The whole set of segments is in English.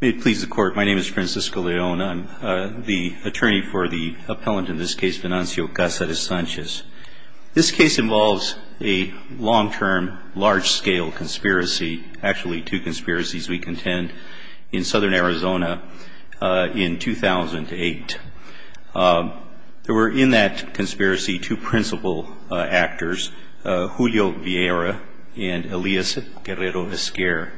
May it please the Court, my name is Francisco Leona. I'm the attorney for the appellant in this case, Venancio Casarez-Sanchez. This case involves a long-term, large-scale conspiracy, actually two conspiracies we contend, in southern Arizona in 2008. There were in that conspiracy two principal actors, Julio Vieira and Elias Guerrero Esquer.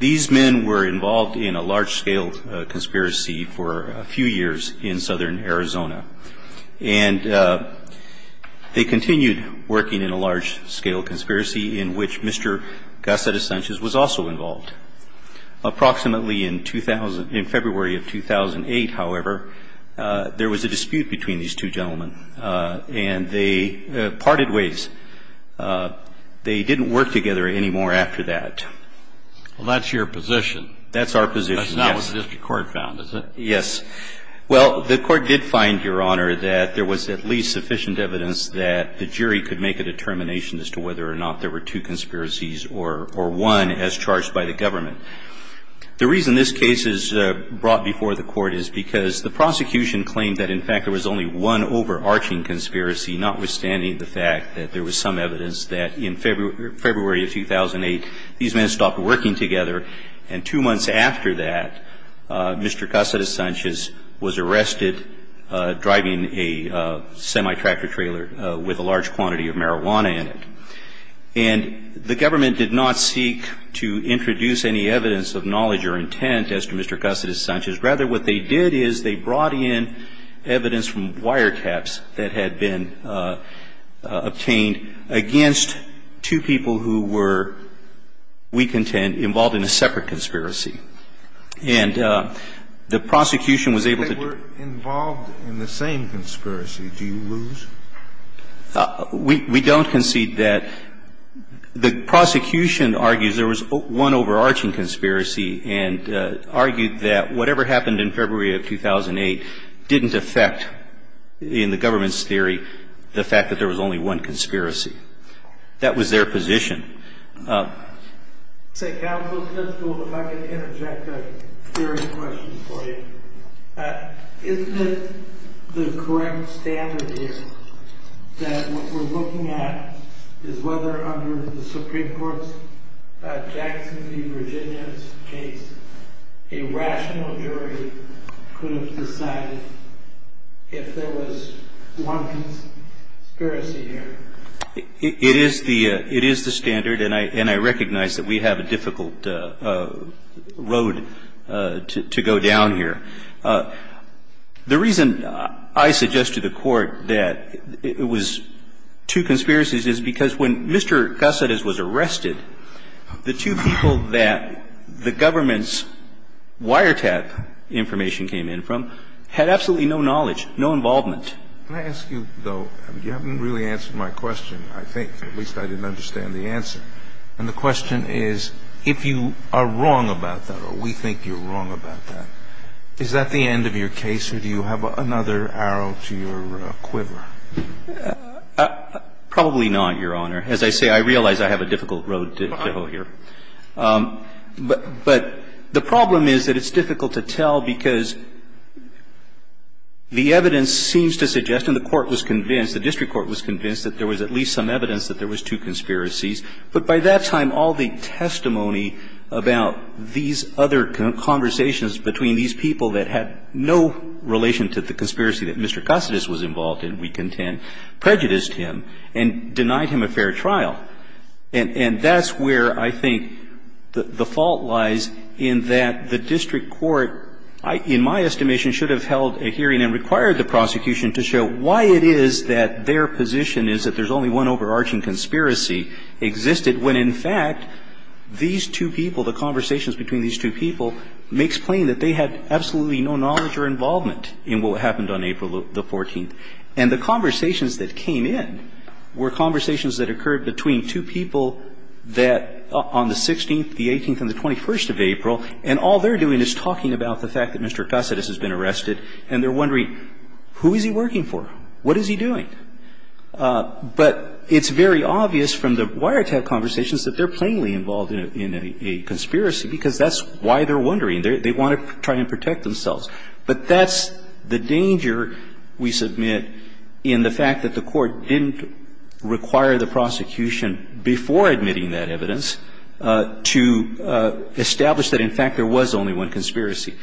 These men were involved in a large-scale conspiracy for a few years in southern Arizona. And they continued working in a large-scale conspiracy in which Mr. Casarez-Sanchez was also involved. Approximately in 2000 – in February of 2008, however, there was a dispute between these two gentlemen. And they parted ways. They didn't work together anymore after that. Well, that's your position. That's our position, yes. That's not what the district court found, is it? Yes. Well, the Court did find, Your Honor, that there was at least sufficient evidence that the jury could make a determination as to whether or not there were two conspiracies or one as charged by the government. The reason this case is brought before the Court is because the prosecution claimed that, in fact, there was only one overarching conspiracy, notwithstanding the fact that there was some evidence that in February of 2008 these men stopped working together. And two months after that, Mr. Casarez-Sanchez was arrested driving a semi-tractor trailer with a large quantity of marijuana in it. And the government did not seek to introduce any evidence of knowledge or intent as to Mr. Casarez-Sanchez. Rather, what they did is they brought in evidence from wiretaps that had been obtained against two people who were, we contend, involved in a separate conspiracy. And the prosecution was able to do that. If they were involved in the same conspiracy, do you lose? We don't concede that. The prosecution argues there was one overarching conspiracy and argued that whatever happened in February of 2008 didn't affect, in the government's theory, the fact that there was only one conspiracy. That was their position. Counsel, if I could interject a theory question for you. Isn't it the correct standard here that what we're looking at is whether under the Supreme Court's Jackson v. Virginia case, a rational jury could have decided if there was one conspiracy here? It is the standard, and I recognize that we have a difficult road to go down here. The reason I suggest to the Court that it was two conspiracies is because when Mr. Casarez was arrested, the two people that the government's wiretap information came in from had absolutely no knowledge, no involvement. Can I ask you, though, you haven't really answered my question, I think. At least I didn't understand the answer. And the question is, if you are wrong about that or we think you're wrong about that, is that the end of your case or do you have another arrow to your quiver? Probably not, Your Honor. As I say, I realize I have a difficult road to go here. But the problem is that it's difficult to tell because the evidence seems to suggest and the court was convinced, the district court was convinced that there was at least some evidence that there was two conspiracies. But by that time, all the testimony about these other conversations between these people that had no relation to the conspiracy that Mr. Casarez was involved in, we contend, prejudiced him and denied him a fair trial. And that's where I think the fault lies in that the district court, in my estimation, should have held a hearing and required the prosecution to show why it is that their position is that there's only one overarching conspiracy existed when, in fact, these two people, the conversations between these two people may explain that they had absolutely no knowledge or involvement in what happened on April the 14th. And the conversations that came in were conversations that occurred between two people that, on the 16th, the 18th, and the 21st of April, and all they're doing is talking about the fact that Mr. Casarez has been arrested and they're wondering, who is he working for? What is he doing? But it's very obvious from the wiretap conversations that they're plainly involved in a conspiracy because that's why they're wondering. They want to try and protect themselves. But that's the danger, we submit, in the fact that the Court didn't require the prosecution before admitting that evidence to establish that, in fact, there was only one conspiracy.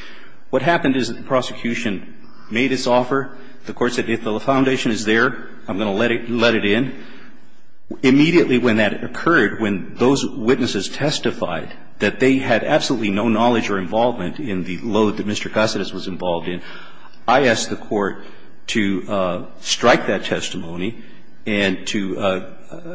What happened is that the prosecution made its offer. The Court said, if the foundation is there, I'm going to let it in. Immediately when that occurred, when those witnesses testified that they had absolutely no knowledge or involvement in the load that Mr. Casarez was involved in, I asked the Court to strike that testimony and to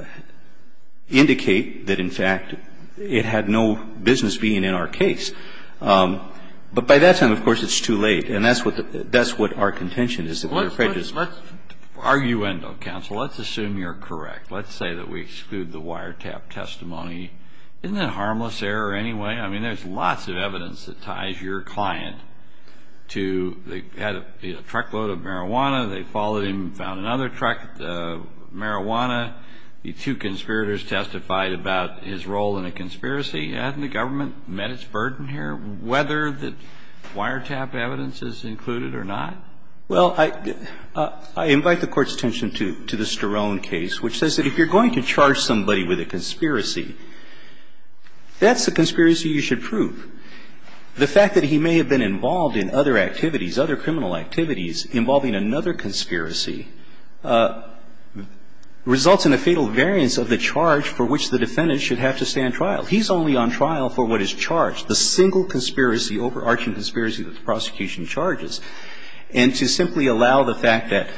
indicate that, in fact, it had no business being in our case. But by that time, of course, it's too late. And that's what the – that's what our contention is, that we are prejudiced. Kennedy. Let's – arguendo, counsel. Let's assume you're correct. Let's say that we exclude the wiretap testimony. Isn't that a harmless error anyway? I mean, there's lots of evidence that ties your client to – they had a truckload of marijuana. They followed him and found another truckload of marijuana. The two conspirators testified about his role in a conspiracy. Hasn't the government met its burden here, whether the wiretap evidence is included or not? Well, I – I invite the Court's attention to the Sterone case, which says that if you're going to charge somebody with a conspiracy, that's the conspiracy you should prove. The fact that he may have been involved in other activities, other criminal activities involving another conspiracy results in a fatal variance of the charge for which the defendant should have to stand trial. He's only on trial for what is charged, the single conspiracy, overarching conspiracy that the prosecution charges. And to simply allow the fact that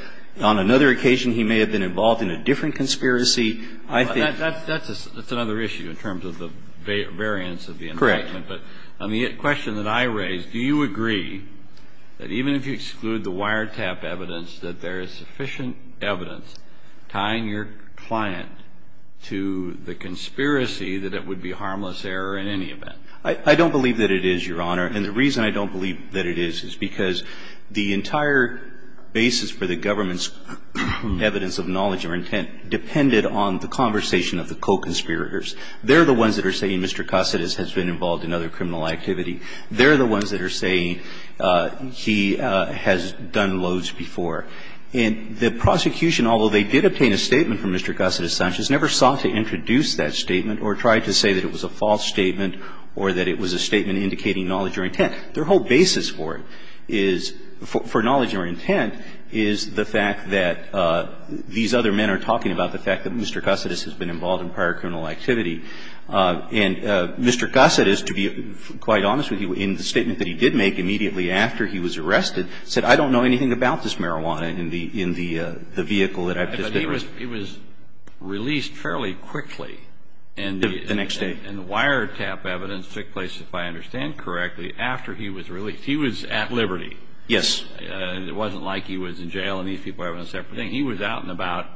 on another occasion he may have been involved in a different conspiracy, I think – That's another issue in terms of the variance of the indictment. Correct. But on the question that I raised, do you agree that even if you exclude the wiretap evidence, that there is sufficient evidence tying your client to the conspiracy that it would be a harmless error in any event? I don't believe that it is, Your Honor. And the reason I don't believe that it is is because the entire basis for the government's evidence of knowledge or intent depended on the conversation of the co-conspirators. They're the ones that are saying Mr. Caceres has been involved in other criminal activity. They're the ones that are saying he has done loads before. And the prosecution, although they did obtain a statement from Mr. Caceres Sanchez, never sought to introduce that statement or tried to say that it was a false statement or that it was a statement indicating knowledge or intent. Their whole basis for it is – for knowledge or intent is the fact that these other men are talking about the fact that Mr. Caceres has been involved in prior criminal activity. And Mr. Caceres, to be quite honest with you, in the statement that he did make immediately after he was arrested, said, I don't know anything about this marijuana in the vehicle that I've just been arrested. But he was released fairly quickly. The next day. And the wiretap evidence took place, if I understand correctly, after he was released. He was at liberty. Yes. It wasn't like he was in jail and these people were having a separate thing. He was out and about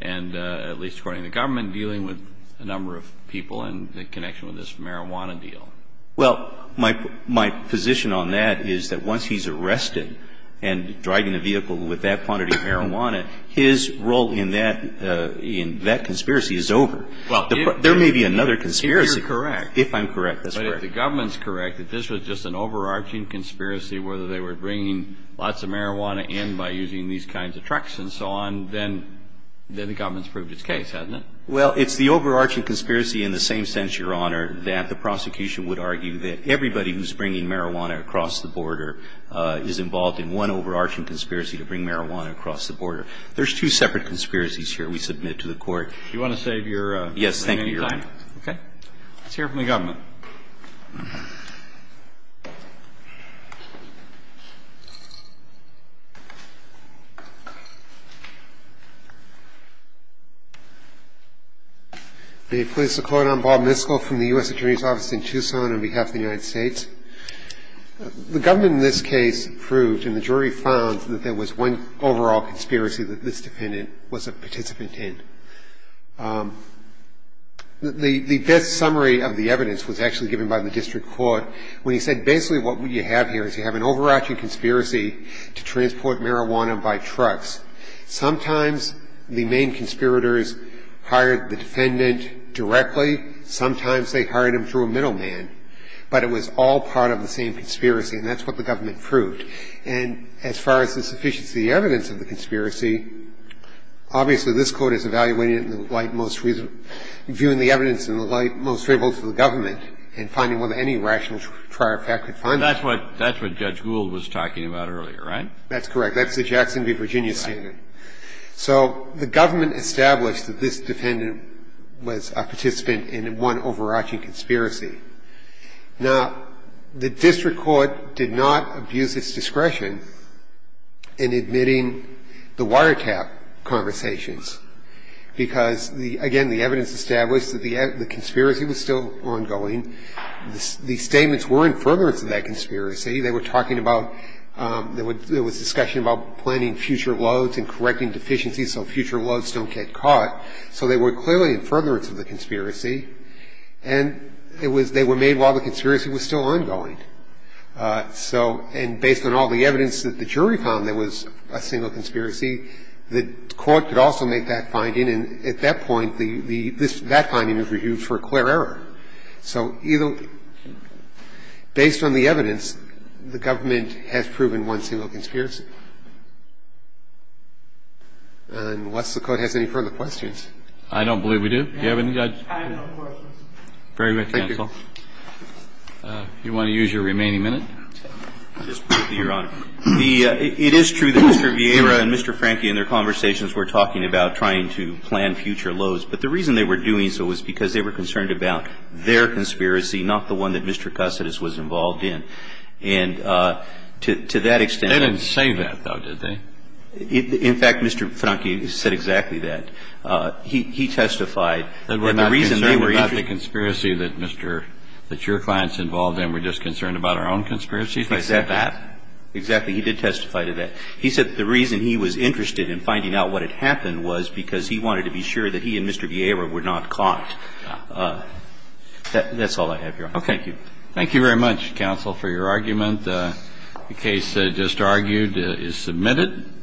and at least, according to the government, dealing with a number of people in connection with this marijuana deal. Well, my position on that is that once he's arrested and driving a vehicle with that quantity of marijuana, his role in that conspiracy is over. Well, if – There may be another conspiracy. If you're correct. If I'm correct, that's correct. But if the government's correct that this was just an overarching conspiracy, whether they were bringing lots of marijuana in by using these kinds of trucks and so on, then the government's proved its case, hasn't it? Well, it's the overarching conspiracy in the same sense, Your Honor, that the prosecution would argue that everybody who's bringing marijuana across the border is involved in one overarching conspiracy to bring marijuana across the border. There's two separate conspiracies here we submit to the Court. Do you want to save your time? Yes, thank you, Your Honor. Okay. Let's hear from the government. May it please the Court, I'm Bob Miskell from the U.S. Attorney's Office in Tucson on behalf of the United States. The government in this case proved and the jury found that there was one overall conspiracy that this defendant was a participant in. The best summary of the evidence was actually given by the district court when he said basically what you have here is you have an overarching conspiracy to transport marijuana by trucks. Sometimes the main conspirators hired the defendant directly. Sometimes they hired him through a middleman. But it was all part of the same conspiracy, and that's what the government proved. So the government established that this defendant was a participant in one overarching conspiracy. Now, the district court did not abuse its discretion in admitting the wiretapping conversations because, again, the evidence established that the conspiracy was still ongoing. The statements were in furtherance of that conspiracy. They were talking about there was discussion about planning future loads and correcting deficiencies so future loads don't get caught. So they were clearly in furtherance of the conspiracy, and they were made while the conspiracy was still ongoing. And so, based on all the evidence that the jury found there was a single conspiracy, the court could also make that finding. And at that point, that finding is reviewed for clear error. So based on the evidence, the government has proven one single conspiracy. Unless the Court has any further questions. I don't believe we do. Do you have any, Judge? I have no questions. Very good, counsel. Thank you. If you want to use your remaining minute. Just briefly, Your Honor. It is true that Mr. Vieira and Mr. Franke in their conversations were talking about trying to plan future loads. But the reason they were doing so was because they were concerned about their conspiracy, not the one that Mr. Cussidous was involved in. And to that extent. They didn't say that, though, did they? In fact, Mr. Franke said exactly that. He testified. And the reason they were interested. That we're not concerned about the conspiracy that Mr. ---- that your clients involved in, we're just concerned about our own conspiracy? He said that. Exactly. He did testify to that. He said the reason he was interested in finding out what had happened was because he wanted to be sure that he and Mr. Vieira were not caught. That's all I have, Your Honor. Okay. Thank you very much, counsel, for your argument. The case just argued is submitted.